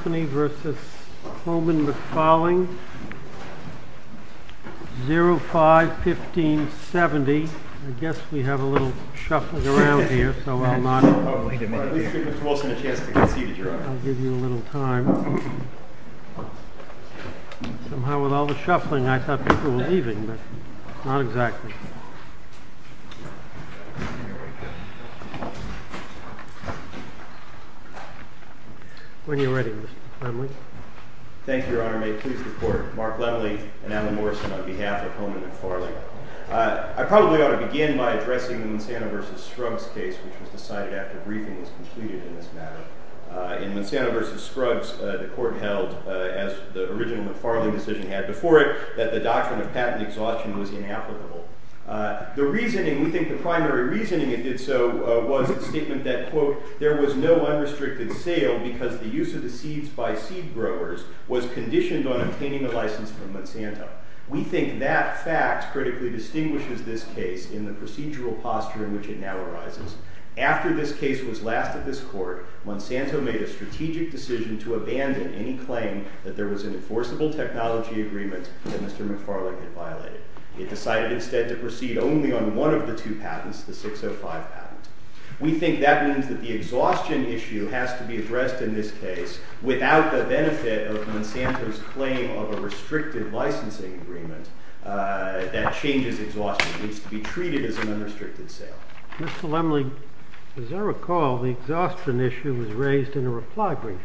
05-1570. I guess we have a little shuffling around here, so I'll not give you a little time. Somehow, with all the shuffling, I thought people were leaving, but not exactly. When you're ready, Mr. Klemlich. Thank you, Your Honor. May it please the Court, Mark Klemlich and Alan Morrison on behalf of Coleman McFarling. I probably ought to begin by addressing the Monsanto v. Scruggs case, which was decided after briefing was completed in this matter. In Monsanto v. Scruggs, the Court held, as the original McFarling decision had before it, that the doctrine of patent exhaustion was inapplicable. We think the primary reasoning it did so was the statement that, quote, there was no unrestricted sale because the use of the seeds by seed growers was conditioned on obtaining a license from Monsanto. We think that fact critically distinguishes this case in the procedural posture in which it now arises. After this case was last at this Court, Monsanto made a strategic decision to abandon any claim that there was an enforceable technology agreement that Mr. McFarling had violated. It decided instead to proceed only on one of the two patents, the 605 patent. We think that means that the exhaustion issue has to be addressed in this case without the benefit of Monsanto's claim of a restricted licensing agreement that changes exhaustion. It needs to be treated as an unrestricted sale. Mr. Lemley, as I recall, the exhaustion issue was raised in a reply brief,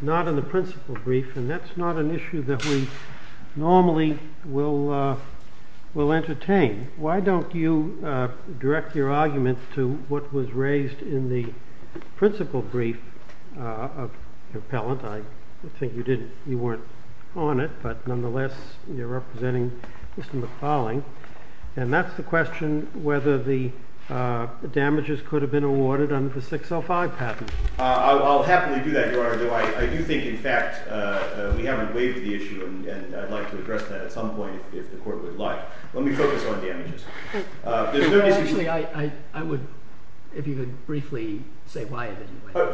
not in the principal brief. And that's not an issue that we normally will entertain. Why don't you direct your argument to what was raised in the principal brief of your appellant? I think you weren't on it, but nonetheless, you're representing Mr. McFarling. And that's the question whether the damages could have been awarded under the 605 patent. I'll happily do that, Your Honor, although I do think, in fact, we haven't waived the issue, and I'd like to address that at some point if the Court would like. Let me focus on damages. Actually, I would, if you could briefly say why.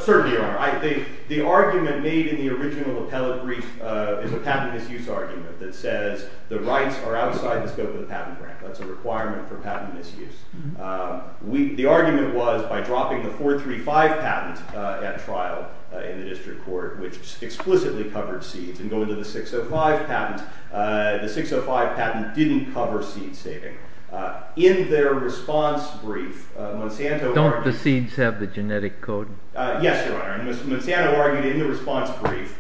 Certainly, Your Honor. The argument made in the original appellate brief is a patent misuse argument that says the rights are outside the scope of the patent grant. That's a requirement for patent misuse. The argument was by dropping the 435 patent at trial in the district court, which explicitly covered seeds, and going to the 605 patent, the 605 patent didn't cover seed saving. In their response brief, Monsanto argued— Don't the seeds have the genetic code? Yes, Your Honor. And Monsanto argued in the response brief,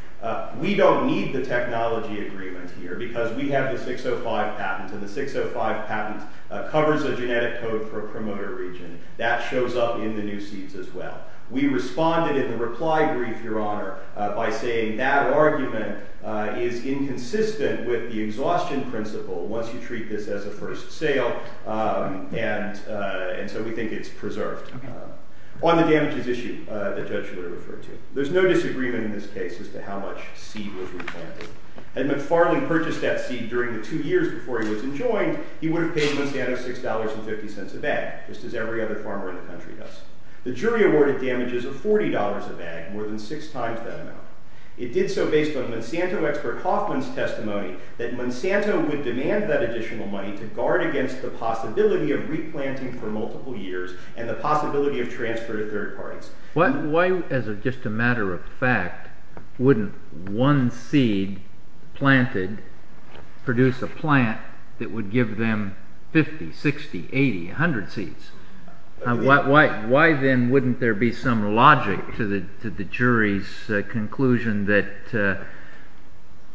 we don't need the technology agreement here because we have the 605 patent, and the 605 patent covers a genetic code for a promoter region. That shows up in the new seeds as well. We responded in the reply brief, Your Honor, by saying that argument is inconsistent with the exhaustion principle once you treat this as a first sale, and so we think it's preserved. On the damages issue the judge would have referred to, there's no disagreement in this case as to how much seed was replanted. Had McFarland purchased that seed during the two years before he was enjoined, he would have paid Monsanto $6.50 a bag, just as every other farmer in the country does. The jury awarded damages of $40 a bag, more than six times that amount. It did so based on Monsanto expert Hoffman's testimony that Monsanto would demand that additional money to guard against the possibility of replanting for multiple years and the possibility of transfer to third parties. Why, as just a matter of fact, wouldn't one seed planted produce a plant that would give them 50, 60, 80, 100 seeds? Why, then, wouldn't there be some logic to the jury's conclusion that the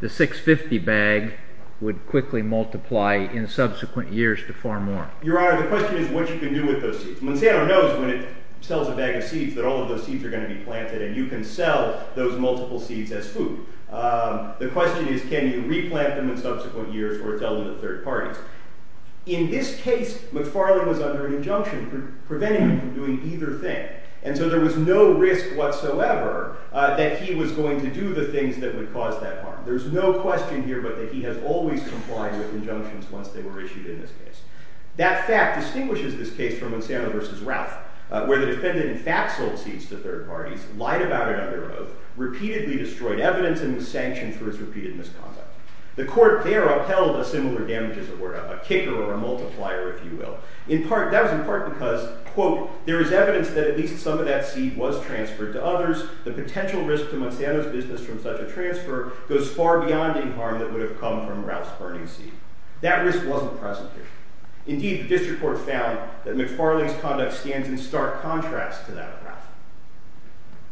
$6.50 bag would quickly multiply in subsequent years to four more? Your Honor, the question is what you can do with those seeds. Monsanto knows when it sells a bag of seeds that all of those seeds are going to be planted, and you can sell those multiple seeds as food. The question is can you replant them in subsequent years or sell them to third parties? In this case, McFarland was under an injunction preventing him from doing either thing. And so there was no risk whatsoever that he was going to do the things that would cause that harm. There's no question here but that he has always complied with injunctions once they were issued in this case. That fact distinguishes this case from Monsanto versus Ralph, where the defendant in fact sold seeds to third parties, lied about it under oath, repeatedly destroyed evidence, and was sanctioned for his repeated misconduct. The court there upheld the similar damages that were a kicker or a multiplier, if you will. That was in part because, quote, there is evidence that at least some of that seed was transferred to others. The potential risk to Monsanto's business from such a transfer goes far beyond any harm that would have come from Ralph's burning seed. That risk wasn't present here. Indeed, the district court found that McFarland's conduct stands in stark contrast to that of Ralph.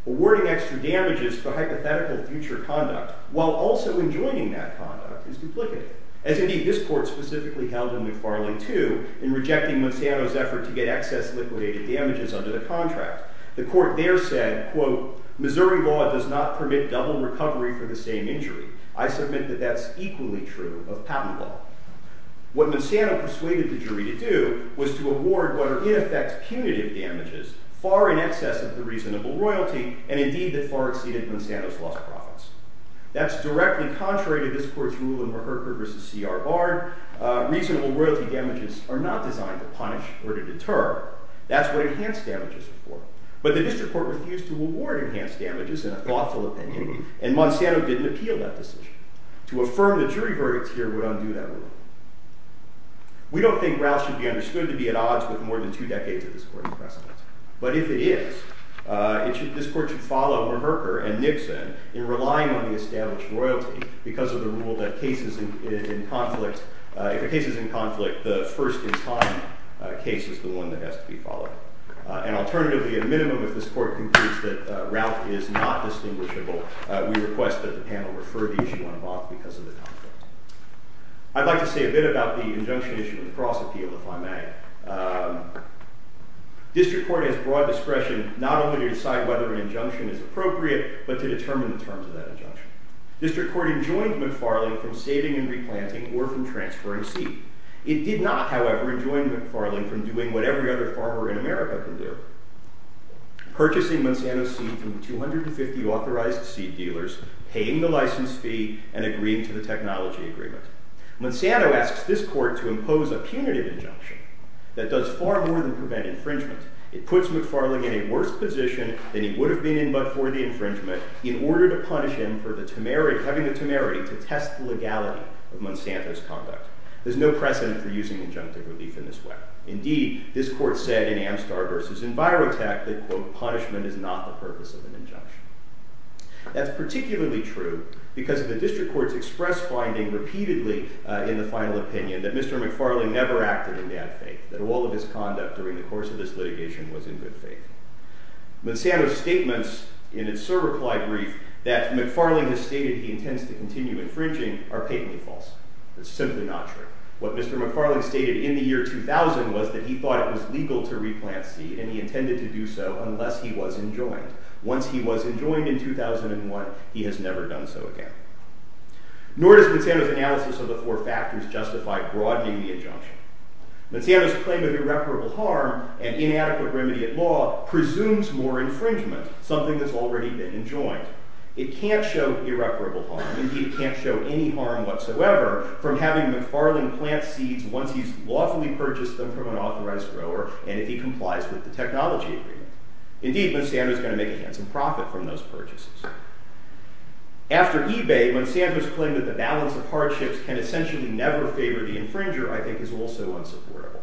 Awarding extra damages for hypothetical future conduct while also enjoining that conduct is duplicative. As indeed, this court specifically held in McFarland, too, in rejecting Monsanto's effort to get excess liquidated damages under the contract. The court there said, quote, Missouri law does not permit double recovery for the same injury. I submit that that's equally true of patent law. What Monsanto persuaded the jury to do was to award what are, in effect, punitive damages far in excess of the reasonable royalty, and indeed that far exceeded Monsanto's lost profits. That's directly contrary to this court's rule in Rupert v. C.R. Bard. Reasonable royalty damages are not designed to punish or to deter. That's what enhanced damages are for. But the district court refused to award enhanced damages in a thoughtful opinion, and Monsanto didn't appeal that decision. To affirm the jury verdicts here would undo that rule. We don't think Ralph should be understood to be at odds with more than two decades of this court's precedent. But if it is, this court should follow Merker and Nixon in relying on the established royalty because of the rule that if a case is in conflict, the first in time case is the one that has to be followed. And alternatively, at a minimum, if this court concludes that Ralph is not distinguishable, we request that the panel refer the issue on a box because of the conflict. I'd like to say a bit about the injunction issue in the Cross Appeal, if I may. District court has broad discretion not only to decide whether an injunction is appropriate, but to determine the terms of that injunction. District court enjoined McFarling from saving and replanting or from transferring seed. It did not, however, enjoin McFarling from doing what every other farmer in America can do, purchasing Monsanto seed from 250 authorized seed dealers, paying the license fee, and agreeing to the technology agreement. Monsanto asks this court to impose a punitive injunction that does far more than prevent infringement. It puts McFarling in a worse position than he would have been in before the infringement, in order to punish him for having the temerity to test the legality of Monsanto's conduct. There's no precedent for using injunctive relief in this way. Indeed, this court said in Amstar v. EnviroTech that, quote, punishment is not the purpose of an injunction. That's particularly true because the district courts expressed finding repeatedly in the final opinion that Mr. McFarling never acted in bad faith, that all of his conduct during the course of this litigation was in good faith. Monsanto's statements in its surreplied brief that McFarling has stated he intends to continue infringing are patently false. That's simply not true. What Mr. McFarling stated in the year 2000 was that he thought it was legal to replant seed, and he intended to do so unless he was enjoined. Once he was enjoined in 2001, he has never done so again. Nor does Monsanto's analysis of the four factors justify broadening the injunction. Monsanto's claim of irreparable harm and inadequate remedy at law presumes more infringement, something that's already been enjoined. It can't show irreparable harm. Indeed, it can't show any harm whatsoever from having McFarling plant seeds once he's lawfully purchased them from an authorized grower, and if he complies with the technology agreement. Indeed, Monsanto's going to make a handsome profit from those purchases. After eBay, Monsanto's claim that the balance of hardships can essentially never favor the infringer, I think, is also unsupportable.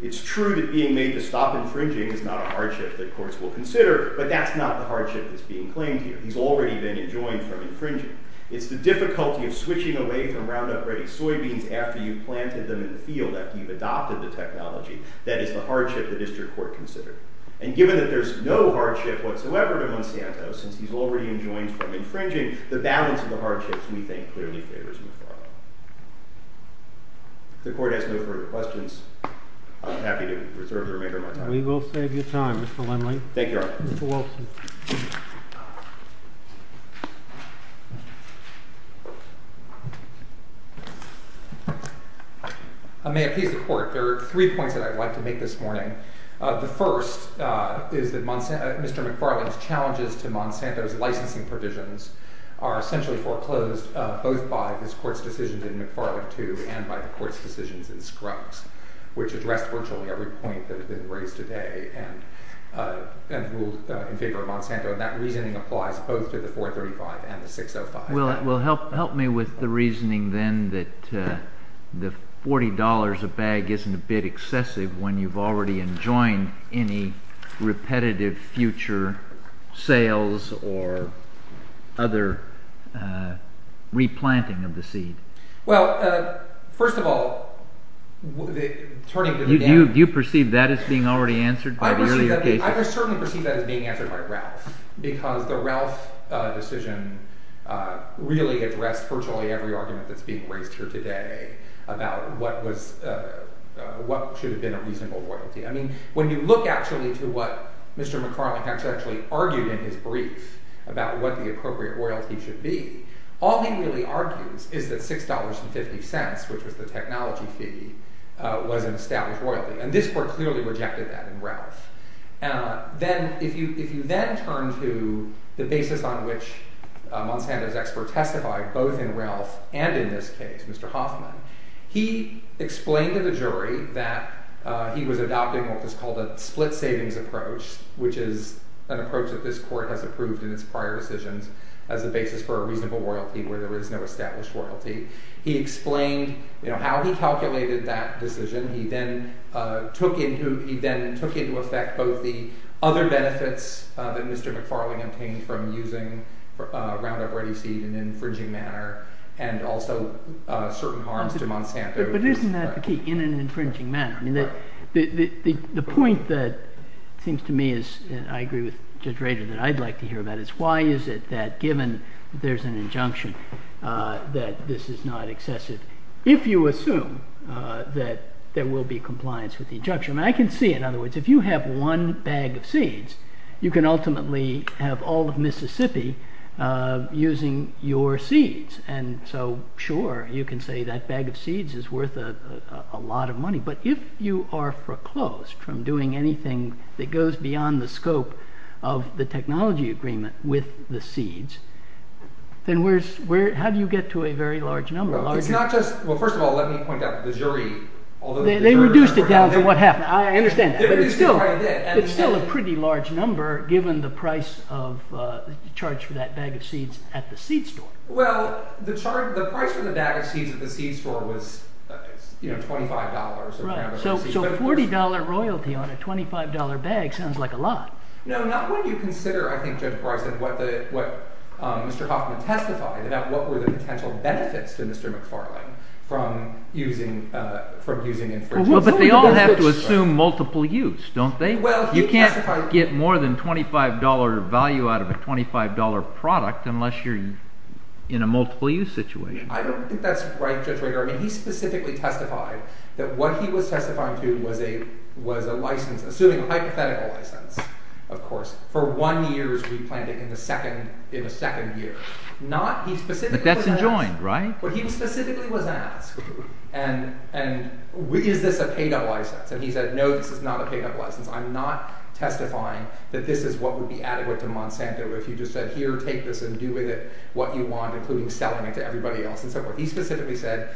It's true that being made to stop infringing is not a hardship that courts will consider, but that's not the hardship that's being claimed here. He's already been enjoined from infringing. It's the difficulty of switching away from roundup-ready soybeans after you've planted them in the field, after you've adopted the technology, that is the hardship the district court considered. And given that there's no hardship whatsoever to Monsanto, since he's already enjoined from infringing, the balance of the hardships, we think, clearly favors McFarling. If the court has no further questions, I'm happy to reserve the remainder of my time. We will save you time, Mr. Lindley. Thank you, Your Honor. Mr. Wilson. I may appease the court. There are three points that I'd like to make this morning. The first is that Mr. McFarling's challenges to Monsanto's licensing provisions are essentially foreclosed both by this court's decisions in McFarling II and by the court's decisions in Scruggs, which address virtually every point that has been raised today and ruled in favor of Monsanto. And that reasoning applies both to the 435 and the 605. Well, help me with the reasoning then that the $40 a bag isn't a bit excessive when you've already enjoined any repetitive future sales or other replanting of the seed. Well, first of all, turning to the dam— Do you perceive that as being already answered by the earlier cases? I certainly perceive that as being answered by Ralph, because the Ralph decision really addressed virtually every argument that's being raised here today about what should have been a reasonable royalty. I mean, when you look actually to what Mr. McFarling actually argued in his brief about what the appropriate royalty should be, all he really argues is that $6.50, which was the technology fee, was an established royalty. And this court clearly rejected that in Ralph. If you then turn to the basis on which Monsanto's expert testified, both in Ralph and in this case, Mr. Hoffman, he explained to the jury that he was adopting what was called a split-savings approach, which is an approach that this court has approved in its prior decisions as a basis for a reasonable royalty where there is no established royalty. He explained how he calculated that decision. He then took into effect both the other benefits that Mr. McFarling obtained from using Roundup Ready Seed in an infringing manner and also certain harms to Monsanto. But isn't that the key, in an infringing manner? I mean, the point that seems to me is, and I agree with Judge Rader, that I'd like to hear about is why is it that, given there's an injunction, that this is not excessive? If you assume that there will be compliance with the injunction, and I can see it, in other words, if you have one bag of seeds, you can ultimately have all of Mississippi using your seeds. And so, sure, you can say that bag of seeds is worth a lot of money. But if you are foreclosed from doing anything that goes beyond the scope of the technology agreement with the seeds, then how do you get to a very large number? Well, first of all, let me point out to the jury. They reduced it down to what happened. I understand that. It's still a pretty large number, given the price charged for that bag of seeds at the seed store. Well, the price for the bag of seeds at the seed store was $25. So $40 royalty on a $25 bag sounds like a lot. No, not when you consider, I think Judge Barr said, what Mr. Hoffman testified about what were the potential benefits to Mr. McFarlane from using infringement. But they all have to assume multiple use, don't they? You can't get more than $25 value out of a $25 product unless you're in a multiple use situation. I don't think that's right, Judge Rager. He specifically testified that what he was testifying to was a license, assuming a hypothetical license, of course, for one year as we planned it in the second year, But that's enjoined, right? But he specifically was asked, is this a paid-up license? And he said, no, this is not a paid-up license. I'm not testifying that this is what would be adequate to Monsanto if you just said, here, take this and do with it what you want, including selling it to everybody else. He specifically said,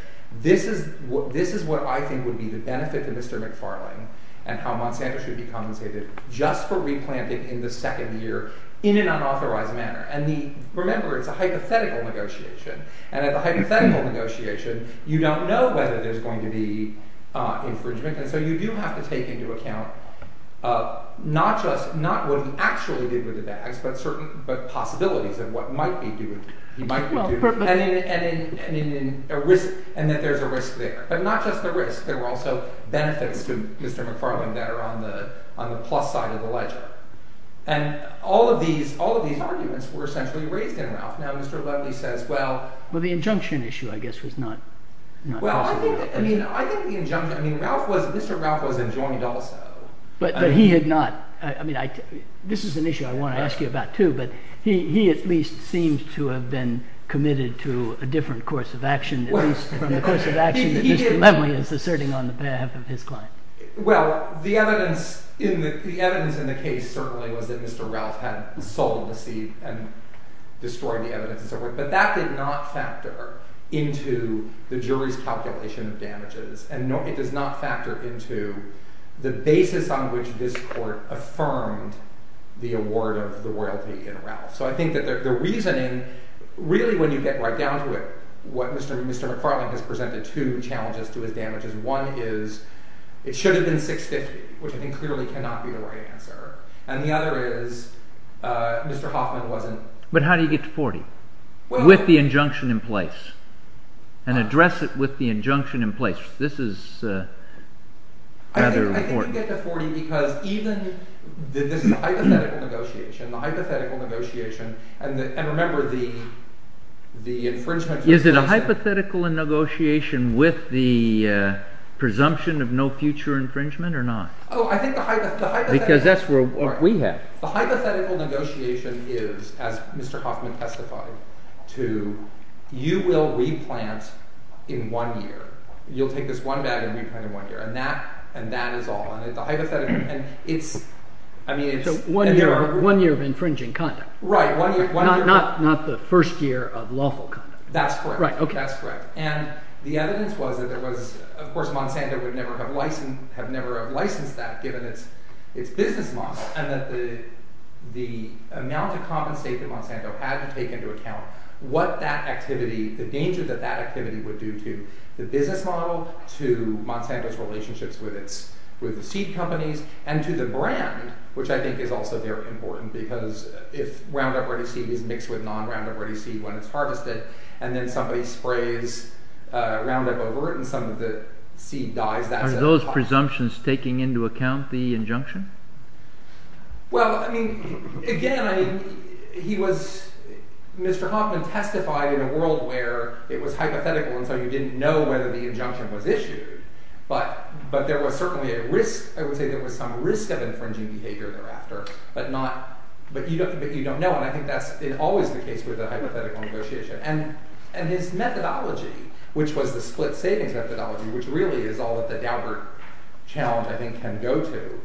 this is what I think would be the benefit to Mr. McFarlane and how Monsanto should be compensated just for replanting in the second year in an unauthorized manner. And remember, it's a hypothetical negotiation. And at the hypothetical negotiation, you don't know whether there's going to be infringement. And so you do have to take into account not just what he actually did with the bags, but certain possibilities of what he might be doing and that there's a risk there. But not just the risk. There were also benefits to Mr. McFarlane that are on the plus side of the ledger. And all of these arguments were essentially raised in Ralph. Now, Mr. Levely says, well— Well, the injunction issue, I guess, was not— Well, I think the injunction—I mean, Ralph was—Mr. Ralph was enjoined also. But he had not—I mean, this is an issue I want to ask you about, too, but he at least seems to have been committed to a different course of action at least from the course of action that Mr. Levely is asserting on behalf of his client. Well, the evidence in the case certainly was that Mr. Ralph had sold the seat and destroyed the evidence and so forth. But that did not factor into the jury's calculation of damages. And it does not factor into the basis on which this court affirmed the award of the royalty in Ralph. So I think that the reasoning—really, when you get right down to it, what Mr. McFarlane has presented two challenges to his damages. One is it should have been $650,000, which I think clearly cannot be the right answer. And the other is Mr. Hoffman wasn't— But how do you get to $40,000 with the injunction in place and address it with the injunction in place? This is rather important. I think you get to $40,000 because even—this is a hypothetical negotiation. The hypothetical negotiation—and remember, the infringement— Is it a hypothetical negotiation with the presumption of no future infringement or not? Oh, I think the hypothetical— Because that's what we have. The hypothetical negotiation is, as Mr. Hoffman testified, to you will replant in one year. You'll take this one bag and replant it in one year. And that is all. And the hypothetical—and it's— So one year of infringing conduct. Right, one year. Not the first year of lawful conduct. That's correct. That's correct. And the evidence was that there was—of course, Monsanto would never have licensed that given its business model. And that the amount of compensation that Monsanto had to take into account, what that activity—the danger that that activity would do to the business model, to Monsanto's relationships with the seed companies, and to the brand, which I think is also very important. Because if Roundup Ready Seed is mixed with non-Roundup Ready Seed when it's harvested, and then somebody sprays Roundup over it and some of the seed dies, that's— Are those presumptions taking into account the injunction? Well, I mean, again, he was—Mr. Hoffman testified in a world where it was hypothetical, and so you didn't know whether the injunction was issued. But there was certainly a risk—I would say there was some risk of infringing behavior thereafter, but not—but you don't know. And I think that's always the case with a hypothetical negotiation. And his methodology, which was the split savings methodology, which really is all that the Daubert channel, I think, can go to.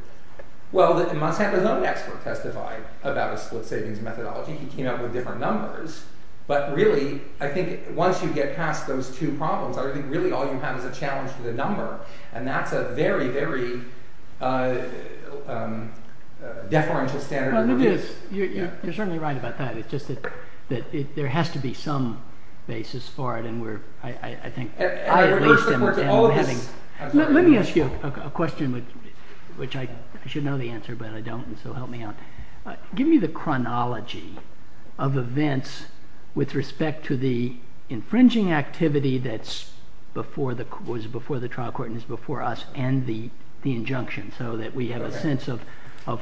Well, Monsanto's own expert testified about a split savings methodology. He came up with different numbers. But really, I think once you get past those two problems, I think really all you have is a challenge to the number. And that's a very, very deferential standard of— Well, it is. You're certainly right about that. It's just that there has to be some basis for it, and we're, I think— And I'm having— Let me ask you a question, which I should know the answer, but I don't, and so help me out. Give me the chronology of events with respect to the infringing activity that was before the trial court and is before us and the injunction so that we have a sense of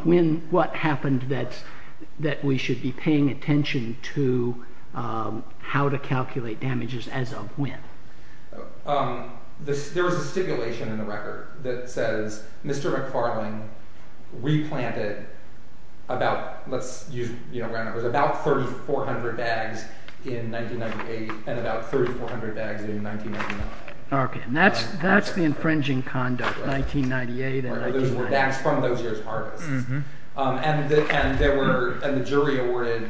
when what happened that we should be paying attention to how to calculate damages as of when. There was a stipulation in the record that says Mr. McFarling replanted about— Okay, and that's the infringing conduct, 1998 and 1999. Those were backs from those years' harvests. And the jury awarded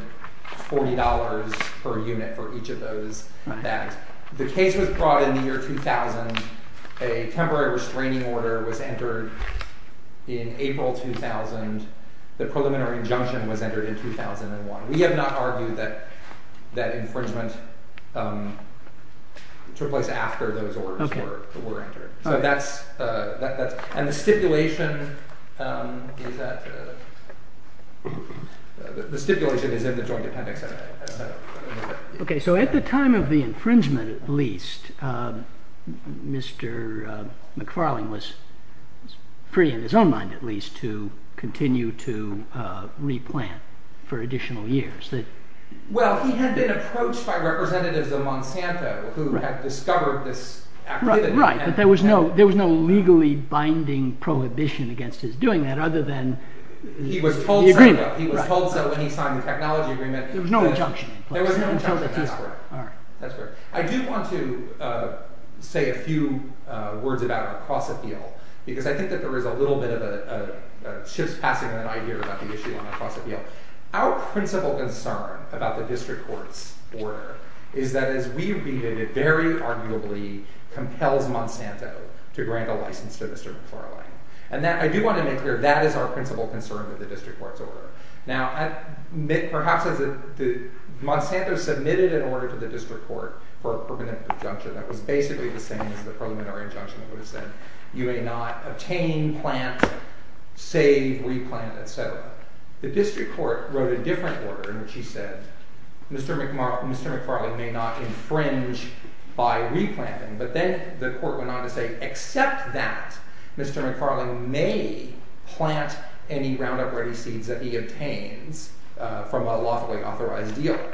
$40 per unit for each of those backs. The case was brought in the year 2000. A temporary restraining order was entered in April 2000. The preliminary injunction was entered in 2001. We have not argued that infringement took place after those orders were entered. So that's—and the stipulation is that—the stipulation is in the joint appendix. Okay, so at the time of the infringement at least, Mr. McFarling was free in his own mind at least to continue to replant for additional years. Well, he had been approached by representatives of Monsanto who had discovered this activity. Right, but there was no legally binding prohibition against his doing that other than the agreement. He was told so when he signed the technology agreement. There was no injunction in place. There was no injunction, that's correct. I do want to say a few words about a cross-appeal because I think that there is a little bit of a chispassing of an idea about the issue on a cross-appeal. Our principal concern about the district court's order is that as we read it, it very arguably compels Monsanto to grant a license to Mr. McFarling. And I do want to make clear that is our principal concern with the district court's order. Now, perhaps Monsanto submitted an order to the district court for a permanent injunction that was basically the same as the preliminary injunction that would have said, you may not obtain, plant, save, replant, etc. The district court wrote a different order in which he said, Mr. McFarling may not infringe by replanting. But then the court went on to say except that, Mr. McFarling may plant any Roundup Ready seeds that he obtains from a lawfully authorized dealer.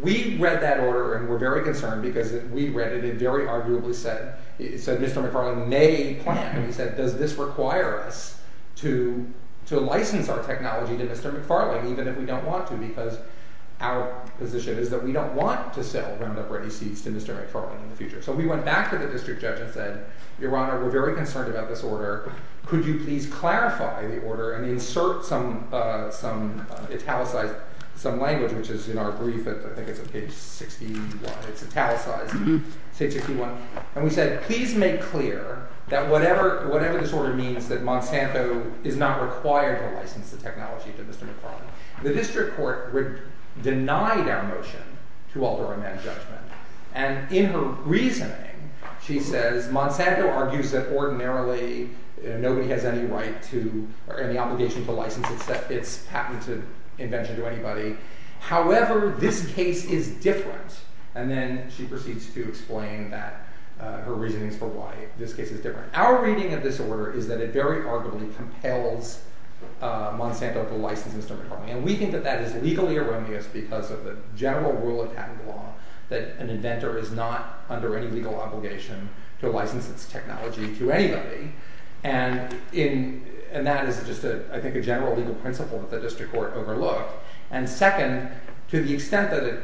We read that order and were very concerned because we read it and it very arguably said, Mr. McFarling may plant. And we said, does this require us to license our technology to Mr. McFarling even if we don't want to because our position is that we don't want to sell Roundup Ready seeds to Mr. McFarling in the future. So we went back to the district judge and said, Your Honor, we're very concerned about this order. Could you please clarify the order and insert some language, which is in our brief, I think it's on page 61. It's italicized, page 61. And we said, please make clear that whatever this order means, that Monsanto is not required to license the technology to Mr. McFarling. The district court denied our motion to alter a man's judgment. And in her reasoning, she says, Monsanto argues that ordinarily nobody has any right to or any obligation to license its patented invention to anybody. However, this case is different. And then she proceeds to explain that her reasoning for why this case is different. Our reading of this order is that it very arguably compels Monsanto to license Mr. McFarling. And we think that that is legally erroneous because of the general rule of patent law that an inventor is not under any legal obligation to license its technology to anybody. And that is just, I think, a general legal principle that the district court overlooked. And second, to the extent that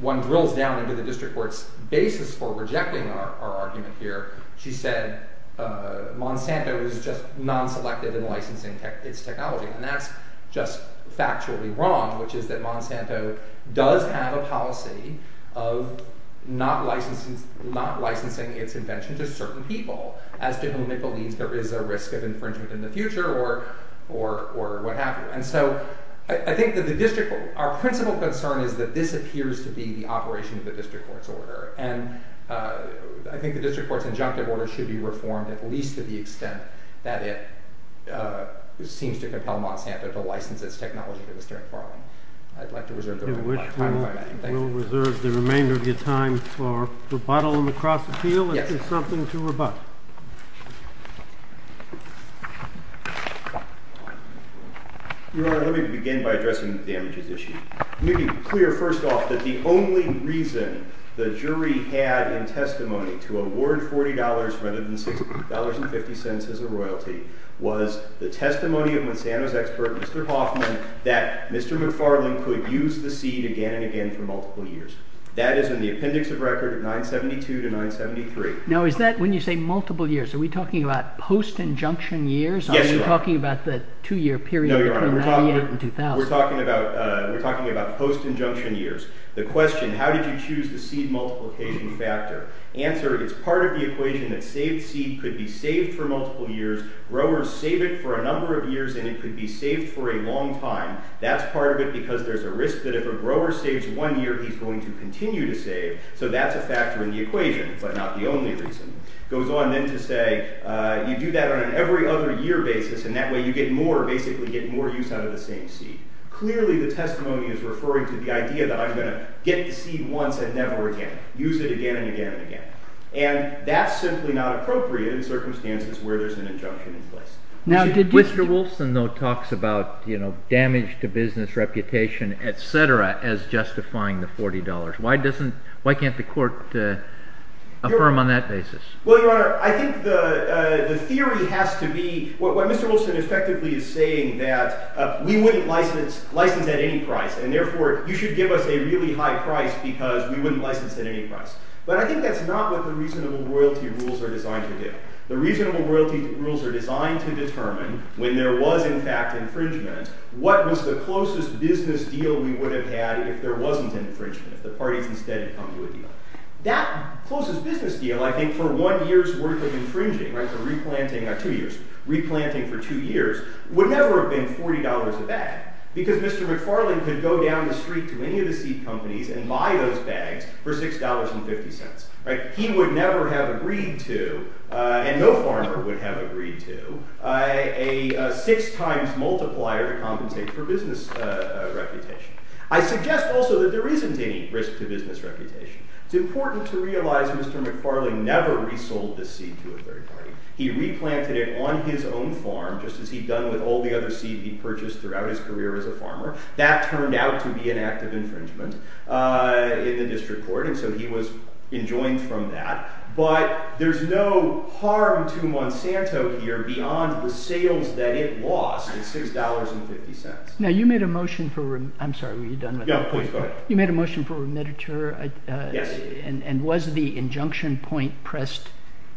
one drills down into the district court's basis for rejecting our argument here, she said Monsanto is just non-selective in licensing its technology. And that's just factually wrong, which is that Monsanto does have a policy of not licensing its invention to certain people as to whom it believes there is a risk of infringement in the future or what have you. And so I think that our principal concern is that this appears to be the operation of the district court's order. And I think the district court's injunctive order should be reformed at least to the extent that it seems to compel Monsanto to license its technology to Mr. McFarling. I'd like to reserve the remainder of your time for rebuttal and recross appeal if there's something to rebut. Your Honor, let me begin by addressing the damages issue. Let me be clear first off that the only reason the jury had in testimony to award $40 rather than $60.50 as a royalty was the testimony of Monsanto's expert, Mr. Hoffman, that Mr. McFarling could use the seed again and again for multiple years. That is in the appendix of record of 972 to 973. Now is that when you say multiple years? Are we talking about post-injunction years? Yes, Your Honor. Are you talking about the two-year period between 1998 and 2000? No, we're talking about post-injunction years. The question, how did you choose the seed multiplication factor? Answer, it's part of the equation that saved seed could be saved for multiple years. Growers save it for a number of years and it could be saved for a long time. That's part of it because there's a risk that if a grower saves one year, he's going to continue to save. So that's a factor in the equation, but not the only reason. It goes on then to say you do that on an every-other-year basis, and that way you get more, basically get more use out of the same seed. Clearly, the testimony is referring to the idea that I'm going to get the seed once and never again, use it again and again and again. And that's simply not appropriate in circumstances where there's an injunction in place. Mr. Wilson, though, talks about damage to business reputation, et cetera, as justifying the $40. Why can't the court affirm on that basis? Well, Your Honor, I think the theory has to be what Mr. Wilson effectively is saying, that we wouldn't license at any price. And therefore, you should give us a really high price because we wouldn't license at any price. But I think that's not what the reasonable royalty rules are designed to do. The reasonable royalty rules are designed to determine when there was, in fact, infringement, what was the closest business deal we would have had if there wasn't infringement, if the parties instead had come to a deal. That closest business deal, I think, for one year's worth of infringing, for replanting for two years, would never have been $40 a bag because Mr. McFarland could go down the street to any of the seed companies and buy those bags for $6.50. He would never have agreed to, and no farmer would have agreed to, a six times multiplier to compensate for business reputation. I suggest also that there isn't any risk to business reputation. It's important to realize that Mr. McFarland never resold the seed to a third party. He replanted it on his own farm, just as he'd done with all the other seed he'd purchased throughout his career as a farmer. That turned out to be an act of infringement in the district court. And so he was enjoined from that. But there's no harm to Monsanto here beyond the sales that it lost at $6.50. Now, you made a motion for – I'm sorry, were you done with that? Yeah, please go ahead. You made a motion for remittiture. Yes. And was the injunction point pressed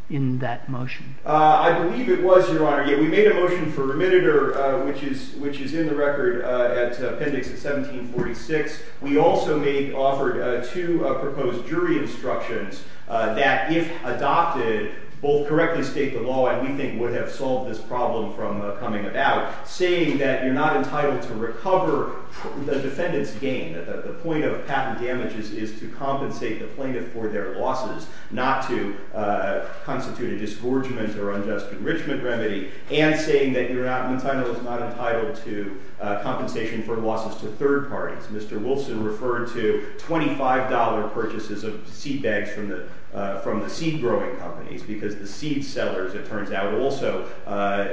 in that motion? I believe it was, Your Honor. Yeah, we made a motion for remittiture, which is in the record, appendix 1746. We also offered two proposed jury instructions that, if adopted, both correctly state the law, and we think would have solved this problem from coming about, saying that you're not entitled to recover the defendant's gain, that the point of patent damages is to compensate the plaintiff for their losses, not to constitute a disgorgement or unjust enrichment remedy, and saying that Monsanto is not entitled to compensation for losses to third parties. Mr. Wilson referred to $25 purchases of seed bags from the seed-growing companies because the seed sellers, it turns out, also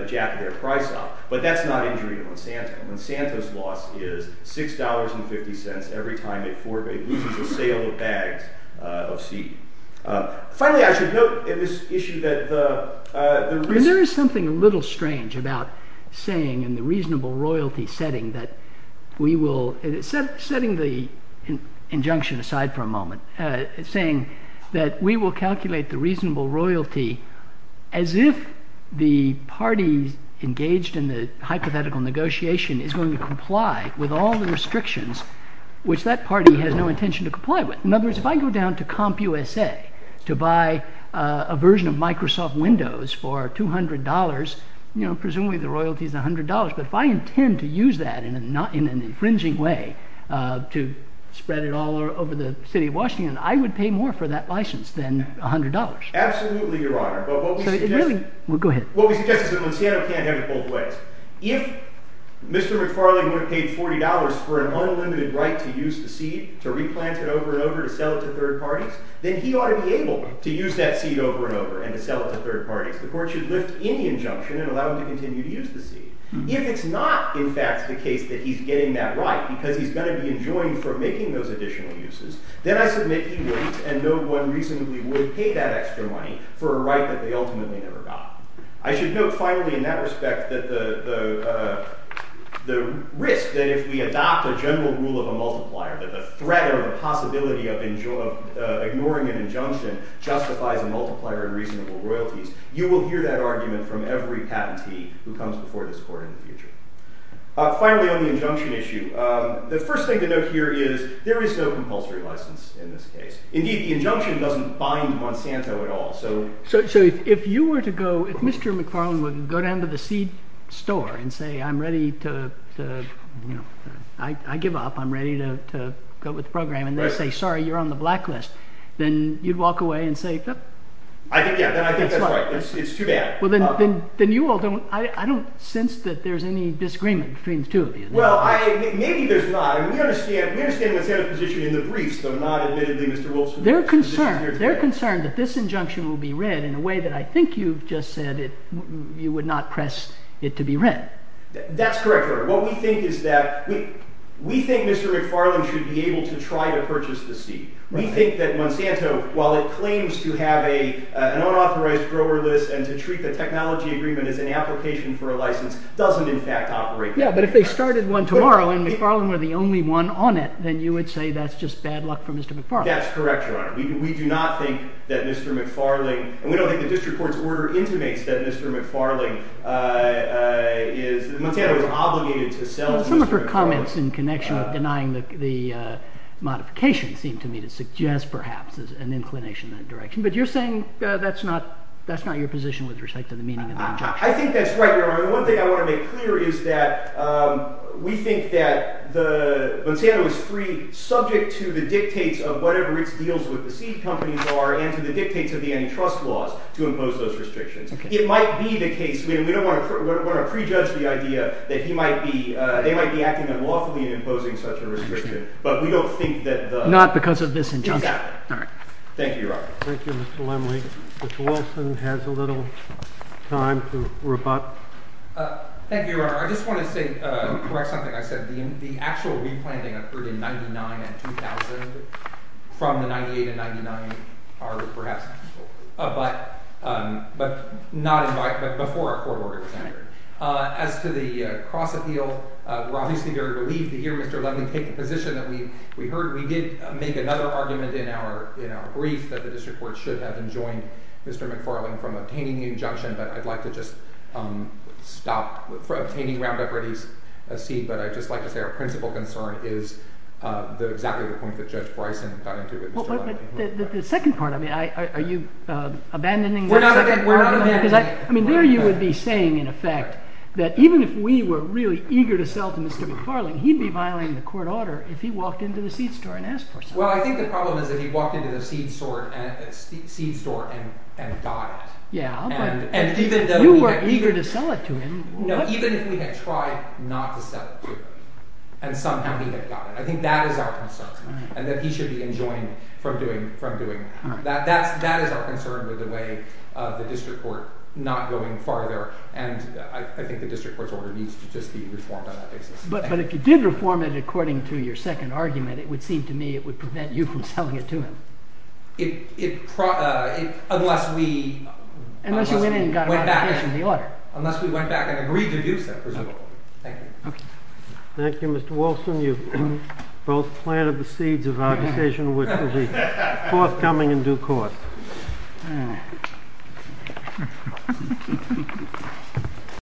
jacked their price up. But that's not injury to Monsanto. Monsanto's loss is $6.50 every time it loses a sale of bags of seed. Finally, I should note in this issue that the – There is something a little strange about saying in the reasonable royalty setting that we will – setting the injunction aside for a moment, saying that we will calculate the reasonable royalty as if the parties engaged in the hypothetical negotiation is going to comply with all the restrictions, which that party has no intention to comply with. In other words, if I go down to CompUSA to buy a version of Microsoft Windows for $200, presumably the royalty is $100. But if I intend to use that in an infringing way to spread it all over the city of Washington, I would pay more for that license than $100. Absolutely, Your Honor. But what we suggest – Go ahead. What we suggest is that Monsanto can't have it both ways. If Mr. McFarling would have paid $40 for an unlimited right to use the seed, to replant it over and over, to sell it to third parties, then he ought to be able to use that seed over and over and to sell it to third parties. The court should lift any injunction and allow him to continue to use the seed. If it's not, in fact, the case that he's getting that right because he's going to be enjoined for making those additional uses, then I submit he wouldn't and no one reasonably would pay that extra money for a right that they ultimately never got. I should note, finally, in that respect, that the risk that if we adopt a general rule of a multiplier, that the threat or the possibility of ignoring an injunction justifies a multiplier in reasonable royalties, you will hear that argument from every patentee who comes before this court in the future. Finally, on the injunction issue, the first thing to note here is there is no compulsory license in this case. Indeed, the injunction doesn't bind Monsanto at all. So if you were to go, if Mr. McFarlane were to go down to the seed store and say, I'm ready to, you know, I give up, I'm ready to go with the program, and they say, sorry, you're on the blacklist, then you'd walk away and say, I think, yeah, I think that's right. It's too bad. Well, then you all don't, I don't sense that there's any disagreement between the two of you. Well, maybe there's not. We understand what's in the briefs, though not admittedly, Mr. Wilson. They're concerned that this injunction will be read in a way that I think you've just said you would not press it to be read. That's correct, Your Honor. What we think is that we think Mr. McFarlane should be able to try to purchase the seed. We think that Monsanto, while it claims to have an unauthorized grower list and to treat the technology agreement as an application for a license, doesn't in fact operate that way. Yeah, but if they started one tomorrow and McFarlane were the only one on it, then you would say that's just bad luck for Mr. McFarlane. That's correct, Your Honor. We do not think that Mr. McFarlane, and we don't think the district court's order intimates that Mr. McFarlane is, Monsanto is obligated to sell Mr. McFarlane. Some of her comments in connection with denying the modification seem to me to suggest perhaps an inclination in that direction. But you're saying that's not your position with respect to the meaning of the injunction. I think that's right, Your Honor. The one thing I want to make clear is that we think that Monsanto is free, subject to the dictates of whatever its deals with the seed companies are and to the dictates of the antitrust laws to impose those restrictions. It might be the case, and we don't want to prejudge the idea, that they might be acting unlawfully in imposing such a restriction, but we don't think that the— Not because of this injunction. Exactly. All right. Thank you, Your Honor. Thank you, Mr. Lemley. Mr. Wilson has a little time to rebut. Thank you, Your Honor. I just want to correct something I said. The actual replanting occurred in 1999 and 2000. From the 1998 and 1999, perhaps. But before our court order was entered. As to the cross-appeal, we're obviously very relieved to hear Mr. Lemley take the position that we heard. We did make another argument in our brief that the district court should have enjoined Mr. McFarland from obtaining the injunction, but I'd like to just stop obtaining Roundup Ready's seed. But I'd just like to say our principal concern is exactly the point that Judge Bryson got into with Mr. Lemley. The second part, I mean, are you abandoning— We're not abandoning— I mean, there you would be saying, in effect, that even if we were really eager to sell to Mr. McFarland, he'd be violating the court order if he walked into the seed store and asked for something. Well, I think the problem is that he walked into the seed store and got it. Yeah, but— And even though— You were eager to sell it to him. No, even if we had tried not to sell it to him and somehow he had gotten it. I think that is our concern, and that he should be enjoined from doing it. That is our concern with the way the district court not going farther, and I think the district court's order needs to just be reformed on that basis. But if you did reform it according to your second argument, it would seem to me it would prevent you from selling it to him. It—unless we— Unless you went in and got a modification of the order. Unless we went back and agreed to do so, presumably. Thank you. Okay. Thank you, Mr. Wilson. You've both planted the seeds of our decision, which will be forthcoming in due course.